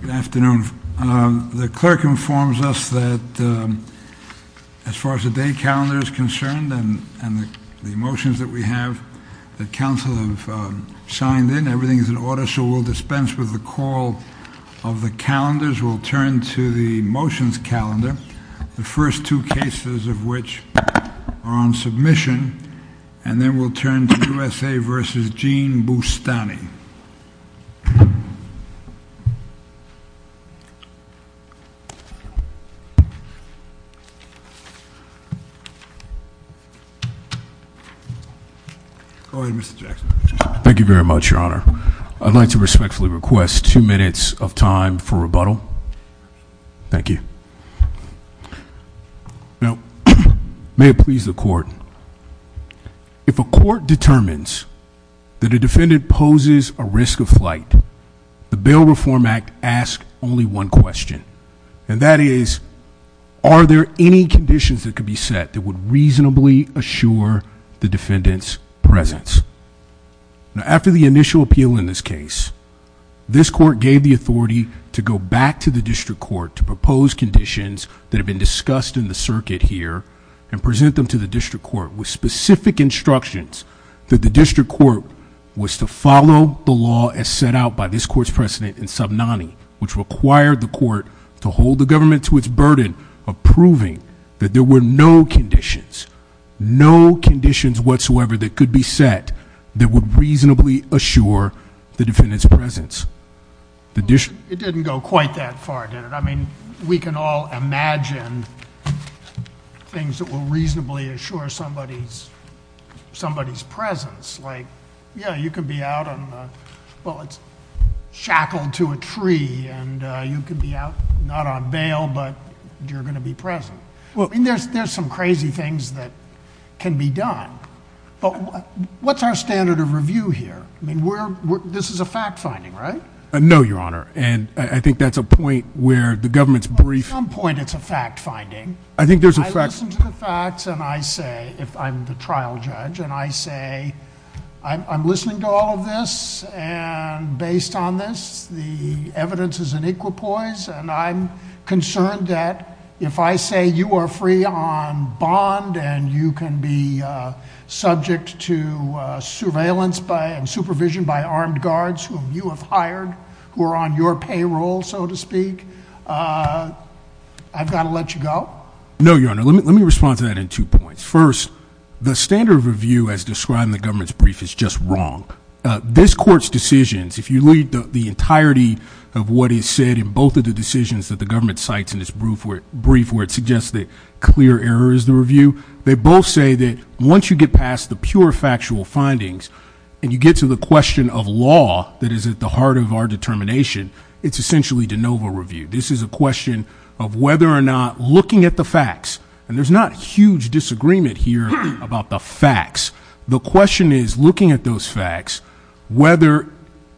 Good afternoon. The clerk informs us that as far as the day calendar is concerned and the motions that we have, that council have signed in, everything is in order, so we'll dispense with the call of the calendars. We'll turn to the motions calendar, the first two cases of which are on submission, and then we'll turn to Mr. Jackson. Thank you very much, your honor. I'd like to respectfully request two minutes of time for rebuttal. Thank you. Now, may it please the court, if a court determines that a defendant poses a risk of flight, the Bail Reform Act asks only one question, and that is, are there any conditions that could be set that would reasonably assure the defendant's presence? Now, after the initial appeal in this case, this court gave the authority to go back to the district court to propose conditions that have been discussed in the circuit here and present them to the district court with specific instructions that the district court was to follow the law as set out by this court's president in sub 90, which required the court to hold the government to its burden of proving that there were no conditions, no conditions whatsoever that could be set that would reasonably assure the defendant's presence. It didn't go quite that far, did it? I mean, we can all imagine things that will reasonably assure somebody's presence, like, yeah, you can be out on, well, it's shackled to a tree, and you can be out not on bail, but you're going to be present. Well, I mean, there's some crazy things that can be done, but what's our standard of review here? I mean, this is a fact finding, right? No, your honor, and I think that's a point where the government's brief... At some point, it's a fact finding. I think there's a fact... I listen to the facts, and I say, if I'm the trial judge, and I say, I'm listening to all of this, and based on this, the evidence is in equipoise, and I'm concerned that if I say you are free on bond, and you can be subject to surveillance by, and supervision by, armed guards whom you have I've got to let you go? No, your honor, let me respond to that in two points. First, the standard of review as described in the government's brief is just wrong. This court's decisions, if you read the entirety of what is said in both of the decisions that the government cites in this brief, where it suggests that clear error is the review, they both say that once you get past the pure factual findings, and you get to the question of law that is at the heart of our determination, it's essentially de novo review. This is a question of whether or not, looking at the facts, and there's not huge disagreement here about the facts, the question is, looking at those facts, whether,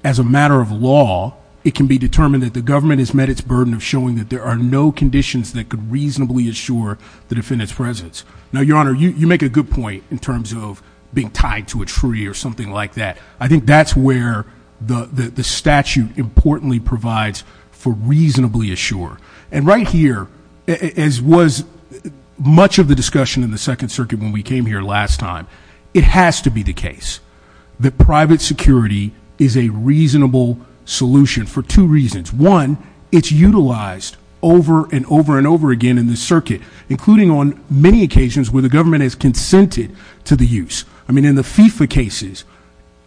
as a matter of law, it can be determined that the government has met its burden of showing that there are no conditions that could reasonably assure the defendant's presence. Now, your honor, you make a good point in terms of being tied to a tree or something like that. I think that's where the statute importantly provides for reasonably assure. And right here, as was much of the discussion in the Second Circuit when we came here last time, it has to be the case that private security is a reasonable solution for two reasons. One, it's utilized over and over and over again in the circuit, including on many occasions where the government has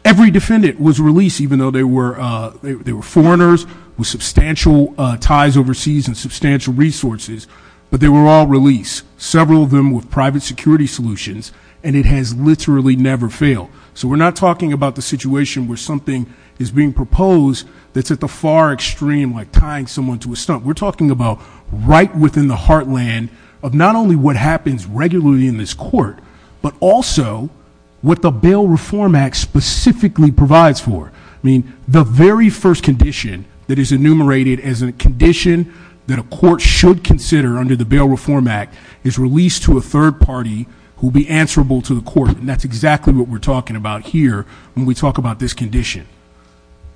every defendant was released, even though they were foreigners, with substantial ties overseas and substantial resources, but they were all released, several of them with private security solutions, and it has literally never failed. So we're not talking about the situation where something is being proposed that's at the far extreme, like tying someone to a stump. We're talking about right within the heartland of not only what happens regularly in this court, but also what the Bail Reform Act specifically provides for. I mean, the very first condition that is enumerated as a condition that a court should consider under the Bail Reform Act is released to a third party who will be answerable to the court, and that's exactly what we're talking about here when we talk about this condition.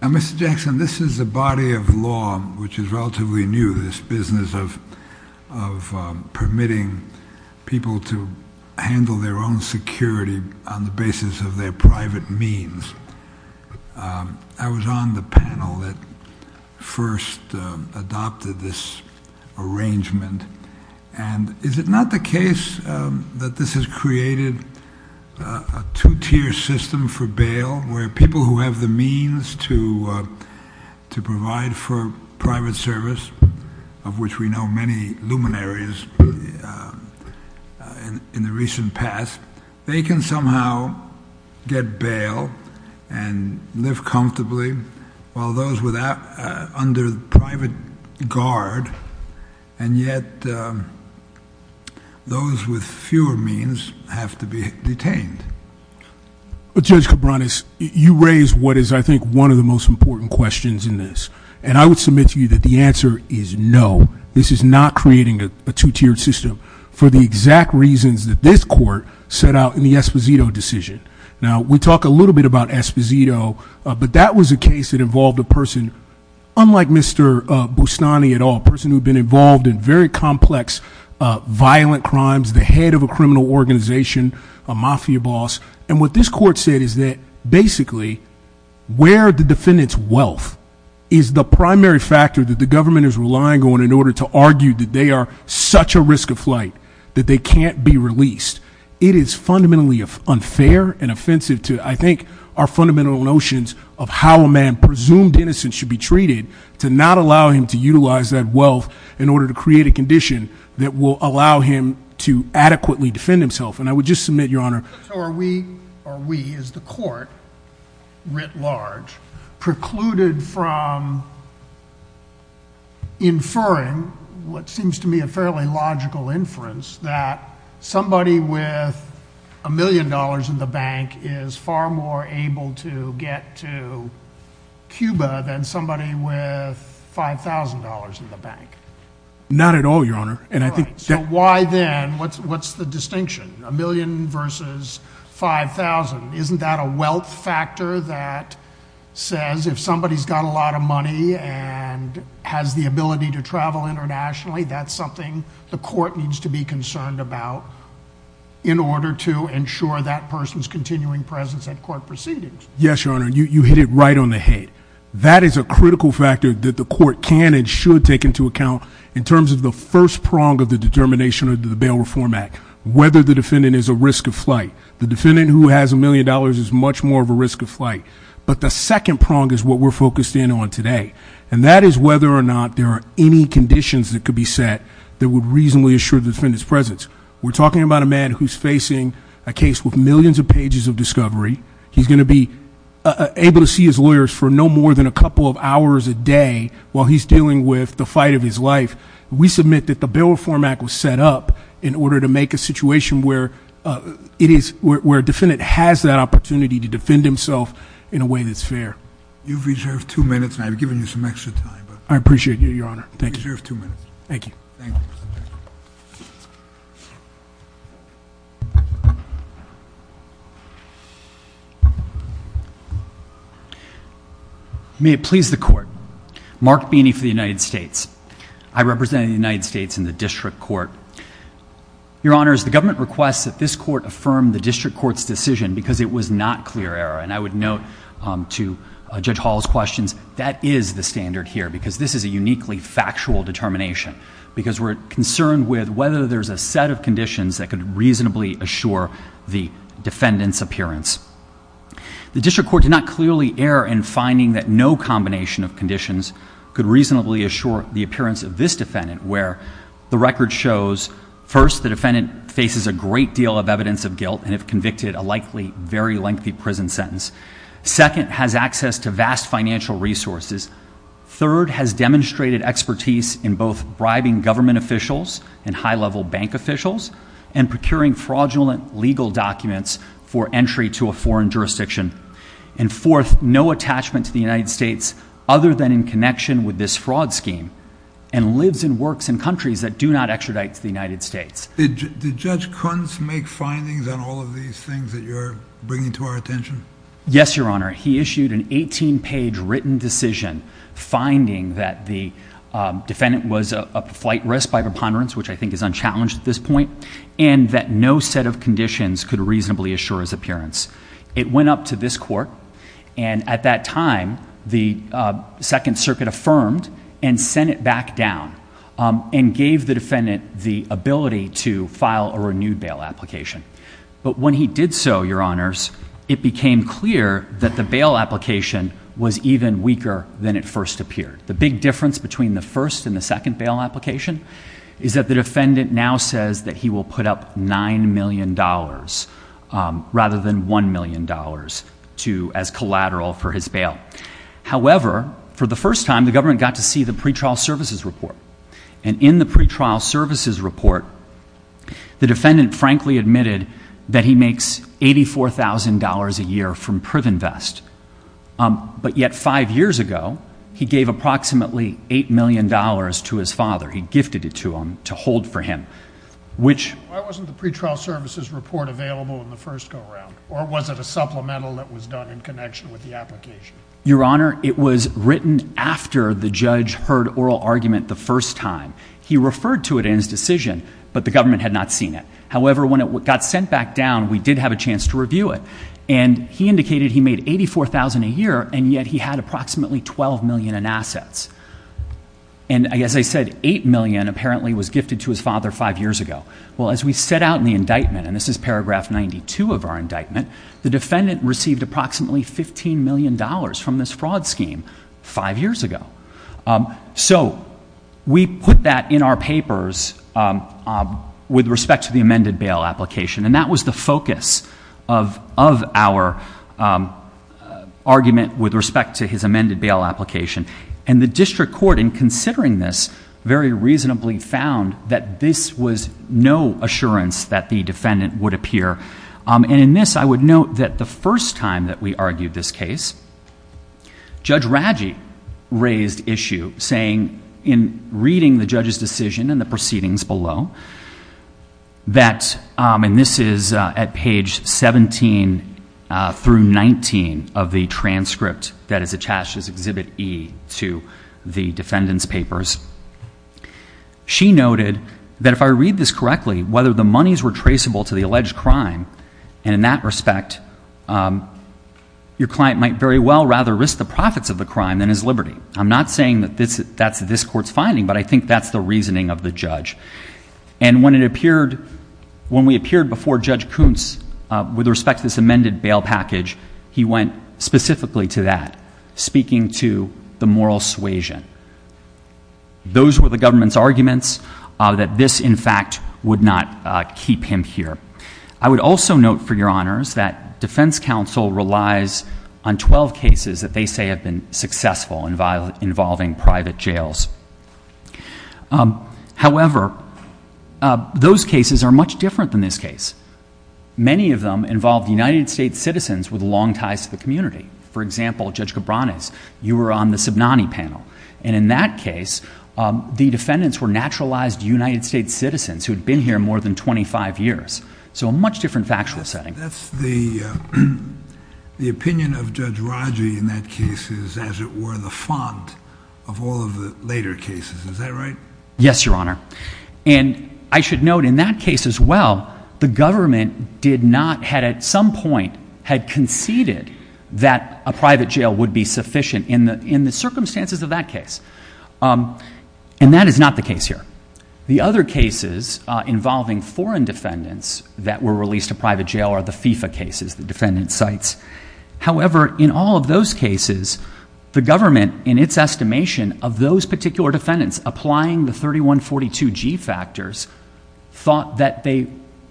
Now, Mr. Jackson, this is a body of law which is relatively new, this is a body of law which is relatively new, and I'm wondering if you can give us a sense of the intricacies of their private means. I was on the panel that first adopted this arrangement, and is it not the case that this has created a two-tier system for bail, where people who have the means to provide for get bail and live comfortably, while those under private guard, and yet those with fewer means have to be detained? Judge Cabranes, you raise what is, I think, one of the most important questions in this, and I would submit to you that the answer is no. This is not creating a two-tiered system for the exact reasons that this court set out in the Esposito decision. Now, we talk a little bit about Esposito, but that was a case that involved a person unlike Mr. Bustani at all, a person who had been involved in very complex, violent crimes, the head of a criminal organization, a mafia boss, and what this court said is that basically where the defendant's wealth is the primary factor that the government is relying on in order to argue that they are such a risk of flight, that they can't be released. It is fundamentally unfair and offensive to, I think, our fundamental notions of how a man presumed innocent should be treated, to not allow him to utilize that wealth in order to create a condition that will allow him to adequately defend himself. And I would just submit, Your Honor... So are we, is the court, writ large, precluded from inferring what seems to me a fairly logical inference that somebody with a million dollars in the bank is far more able to get to Cuba than somebody with $5,000 in the bank? Not at all, Your Honor, and I think... Why then, what's the distinction? A million versus $5,000. Isn't that a wealth factor that says if somebody's got a lot of money and has the ability to travel internationally, that's something the court needs to be concerned about in order to ensure that person's continuing presence at court proceedings? Yes, Your Honor, you hit it right on the head. That is a critical factor that the court can and should take into account in terms of the first prong of the determination of the Bail Reform Act. Whether the defendant is a risk of flight. The defendant who has a million dollars is much more of a risk of flight. But the second prong is what we're focused in on today. And that is whether or not there are any conditions that could be set that would reasonably assure the defendant's presence. We're talking about a man who's facing a case with millions of pages of discovery. He's going to be able to see his lawyers for no more than a couple of hours a day while he's dealing with the fight of his life. We submit that the Bail Reform Act was set up in order to make a situation where a defendant has that opportunity to defend himself in a way that's fair. You've reserved two minutes, and I've given you some extra time. I appreciate you, Your Honor. Thank you. You've reserved two minutes. Thank you. May it please the Court. Mark Beeney for the United States. I represent the United States in the district court. Your Honors, the government requests that this court affirm the district court's decision because it was not clear error. And I would note to Judge Hall's questions, that is the standard here because this is a uniquely factual determination because we're concerned with whether there's a set of conditions that could reasonably assure the defendant's appearance. The district court did not clearly err in finding that no combination of conditions could reasonably assure the appearance of this defendant where the record shows, first, the defendant faces a great deal of evidence of guilt and if convicted, a likely very lengthy prison sentence. Second, has access to vast financial resources. Third, has demonstrated expertise in both bribing government officials and high-level bank officials and procuring fraudulent legal documents for entry to a foreign jurisdiction. And fourth, no attachment to the United States other than in connection with this fraud scheme and lives and works in countries that do not extradite to the United States. Did Judge Kuntz make findings on all of these things that you're bringing to our attention? Yes, Your Honor. He issued an 18-page written decision finding that the defendant was at flight risk by preponderance, which I think is unchallenged at this point, and that no set of conditions could reasonably assure his appearance. It went up to this court, and at that time, the Second Circuit affirmed and sent it back down and gave the defendant the ability to file a renewed bail application. But when he did so, Your Honors, it became clear that the bail application was even weaker than it first appeared. The big difference between the first and the second bail application is that the defendant now says that he will put up $9 million rather than $1 million as collateral for his bail. However, for the first time, the government got to see the pretrial services report. And in the pretrial services report, the defendant frankly admitted that he makes $84,000 a year from PrivenVest. But yet five years ago, he gave approximately $8 million to his father. He gifted it to him to hold for him. Why wasn't the pretrial services report available in the first go-around? Or was it a supplemental that was done in connection with the application? Your Honor, it was written after the judge heard oral argument the first time. He referred to it in his decision, but the government had not seen it. However, when it got sent back down, we did have a chance to review it. And he indicated he made $84,000 a year, and yet he had approximately $12 million in assets. And as I said, $8 million apparently was gifted to his father five years ago. Well, as we set out in the indictment, and this is paragraph 92 of our indictment, the defendant received approximately $15 million from this fraud scheme five years ago. So we put that in our papers with respect to the amended bail application. And that was the focus of our argument with respect to his amended bail application. And the district court, in considering this, very reasonably found that this was no assurance that the defendant would appear. And in this, I would note that the first time that we argued this case, Judge Raggi raised issue, saying in reading the judge's decision and the proceedings below, that, and this is at page 17 through 19 of the transcript that is attached as Exhibit E to the defendant's papers. She noted that if I read this correctly, whether the monies were traceable to the alleged crime, and in that respect, your client might very well rather risk the profits of the crime than his liberty. I'm not saying that that's this court's finding, but I think that's the reasoning of the judge. And when we appeared before Judge Kuntz with respect to this amended bail package, he went specifically to that, speaking to the moral suasion. Those were the government's arguments that this, in fact, would not keep him here. I would also note, for your honors, that defense counsel relies on 12 cases that they say have been successful involving private jails. However, those cases are much different than this case. Many of them involve United States citizens with long ties to the community. For example, Judge Cabranes, you were on the Subnani panel, and in that case, the defendants were naturalized United States citizens who had been here more than 25 years. So a much different factual setting. That's the opinion of Judge Raji in that case is, as it were, the font of all of the later cases. Is that right? Yes, your honor. And I should note, in that case as well, the government did not, had at some point, had conceded that a private jail would be sufficient in the circumstances of that case. And that is not the case here. The other cases involving foreign defendants that were released to private jail are the FIFA cases, the defendant sites. However, in all of those cases, the government, in its estimation of those particular defendants, applying the 3142G factors, thought that they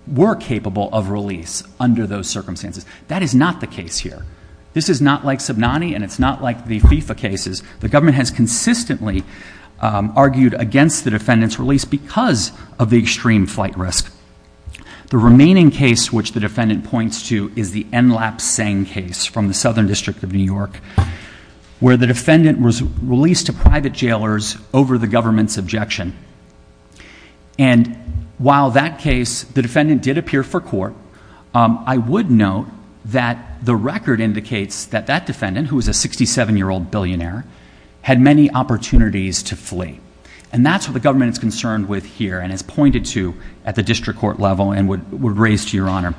were capable of release under those circumstances. That is not the case here. This is not like Subnani, and it's not like the FIFA cases. The government has consistently argued against the defendant's release because of the extreme flight risk. The remaining case, which the defendant points to, is the Enlap-Seng case from the Southern District of New York, where the defendant was released to private jailers over the government's objection. And while that case, the defendant did appear for court, I would note that the record indicates that that defendant, who was a 67-year-old billionaire, had many opportunities to flee. And that's what the government is concerned with here and has pointed to at the district court level and would raise to your honor.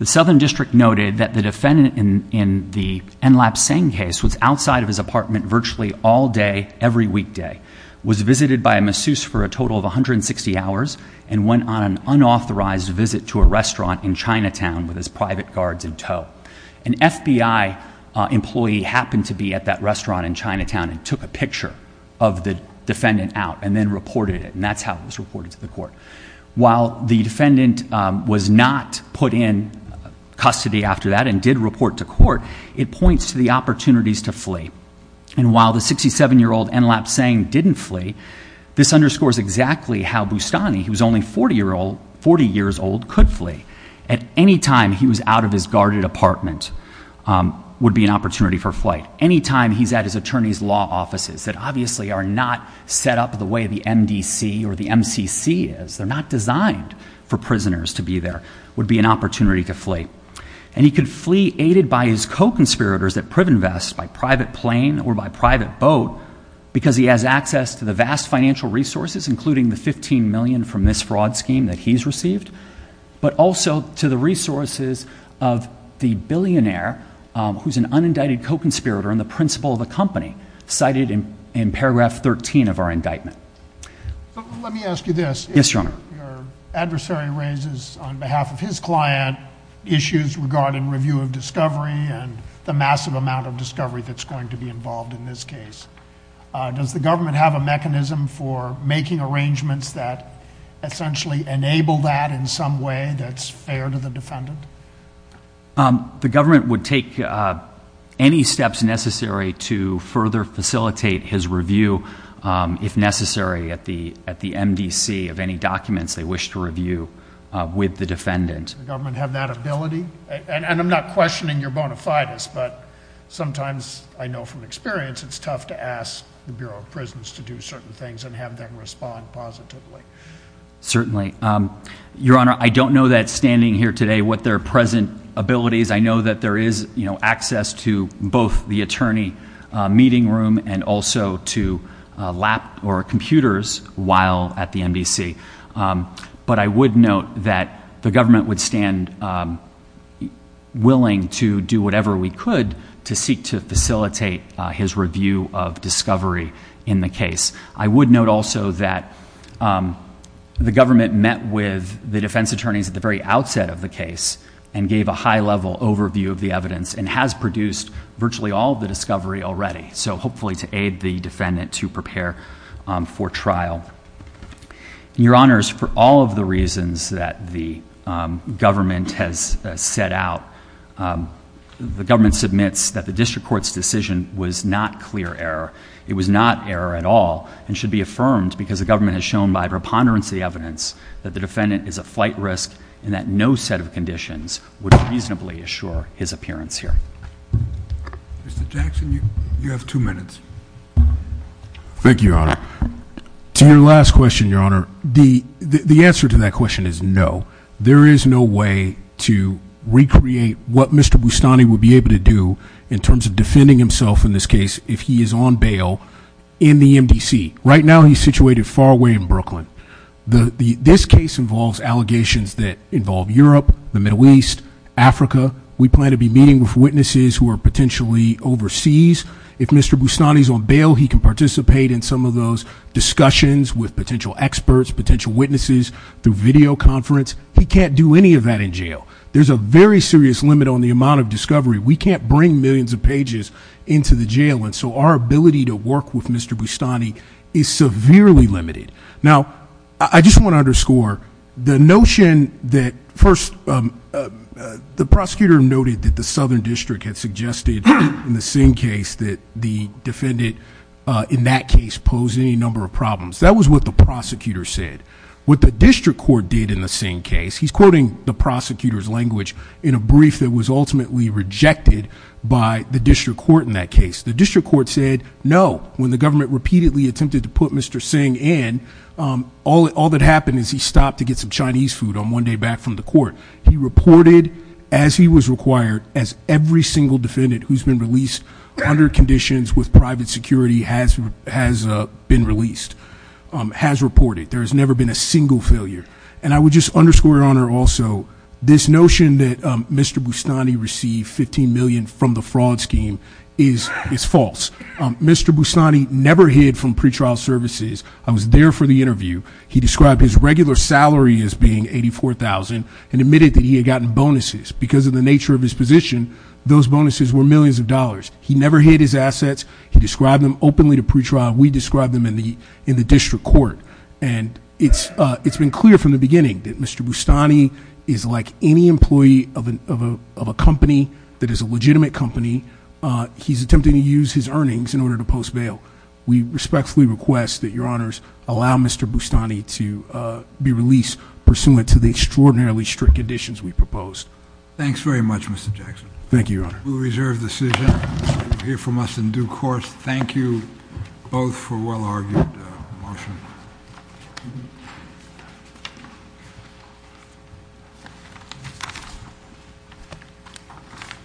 The Southern District noted that the defendant in the Enlap-Seng case was outside of his apartment virtually all day, every weekday, was visited by a masseuse for a total of 160 hours, and went on an unauthorized visit to a restaurant in Chinatown with his private guards in tow. An FBI employee happened to be at that restaurant in Chinatown and took a picture of the defendant out and then reported it, and that's how it was reported to the court. While the defendant was not put in custody after that and did report to court, it points to the opportunities to flee. And while the 67-year-old Enlap-Seng didn't flee, this underscores exactly how Bustani, who was only 40 years old, could flee. At any time he was out of his guarded apartment would be an opportunity for flight. Any time he's at his attorney's law offices that obviously are not set up the way the MDC or the MCC is, they're not designed for prisoners to be there, would be an opportunity to flee. And he could flee aided by his co-conspirators at PrivInvest, by private plane or by private boat, because he has access to the vast financial resources, including the $15 million from this fraud scheme that he's received, but also to the resources of the billionaire who's an unindicted co-conspirator and the principal of the company, cited in paragraph 13 of our indictment. Let me ask you this. Yes, Your Honor. Your adversary raises, on behalf of his client, issues regarding review of discovery and the massive amount of discovery that's going to be involved in this case. Does the government have a mechanism for making arrangements that essentially enable that in some way that's fair to the defendant? The government would take any steps necessary to further facilitate his review, if necessary, at the MDC of any documents they wish to review with the defendant. Does the government have that ability? And I'm not questioning your bona fides, but sometimes, I know from experience, it's tough to ask the Bureau of Prisons to do certain things and have them respond positively. Certainly. Your Honor, I don't know that standing here today what their present abilities. I know that there is access to both the attorney meeting room and also to lap or computers while at the MDC. But I would note that the government would stand willing to do whatever we could to seek to facilitate his review of discovery in the case. I would note also that the government met with the defense attorneys at the very outset of the case and gave a high-level overview of the evidence and has produced virtually all of the discovery already, so hopefully to aid the defendant to prepare for trial. Your Honors, for all of the reasons that the government has set out, the government submits that the district court's decision was not clear error. It was not error at all and should be affirmed because the government has shown by preponderance of the evidence that the defendant is a flight risk and that no set of conditions would reasonably assure his appearance here. Mr. Jackson, you have two minutes. Thank you, Your Honor. To your last question, Your Honor, the answer to that question is no. There is no way to recreate what Mr. Bustani would be able to do in terms of defending himself in this case if he is on bail in the MDC. Right now, he's situated far away in Brooklyn. This case involves allegations that involve Europe, the Middle East, Africa. We plan to be meeting with witnesses who are potentially overseas. If Mr. Bustani's on bail, he can participate in some of those discussions with potential experts, potential witnesses through video conference. He can't do any of that in jail. There's a very serious limit on the amount of discovery. We can't bring millions of pages into the jail, and so our ability to work with Mr. Bustani is severely limited. Now, I just want to underscore the notion that first the prosecutor noted that the Southern District had suggested in the Singh case that the defendant in that case posed any number of problems. That was what the prosecutor said. What the district court did in the Singh case, he's quoting the prosecutor's language in a brief that was ultimately rejected by the district court in that case. The district court said no when the government repeatedly attempted to put Mr. Singh in. All that happened is he stopped to get some Chinese food on one day back from the court. He reported, as he was required, as every single defendant who's been released under conditions with private security has been released, has reported. There has never been a single failure. And I would just underscore, Your Honor, also this notion that Mr. Bustani received $15 million from the fraud scheme is false. Mr. Bustani never hid from pretrial services. I was there for the interview. He described his regular salary as being $84,000 and admitted that he had gotten bonuses. Because of the nature of his position, those bonuses were millions of dollars. He never hid his assets. He described them openly to pretrial. We described them in the district court. And it's been clear from the beginning that Mr. Bustani is like any employee of a company that is a legitimate company. He's attempting to use his earnings in order to post bail. We respectfully request that Your Honors allow Mr. Bustani to be released pursuant to the extraordinarily strict conditions we proposed. Thanks very much, Mr. Jackson. Thank you, Your Honor. We reserve the decision. You'll hear from us in due course. Thank you both for a well-argued motion.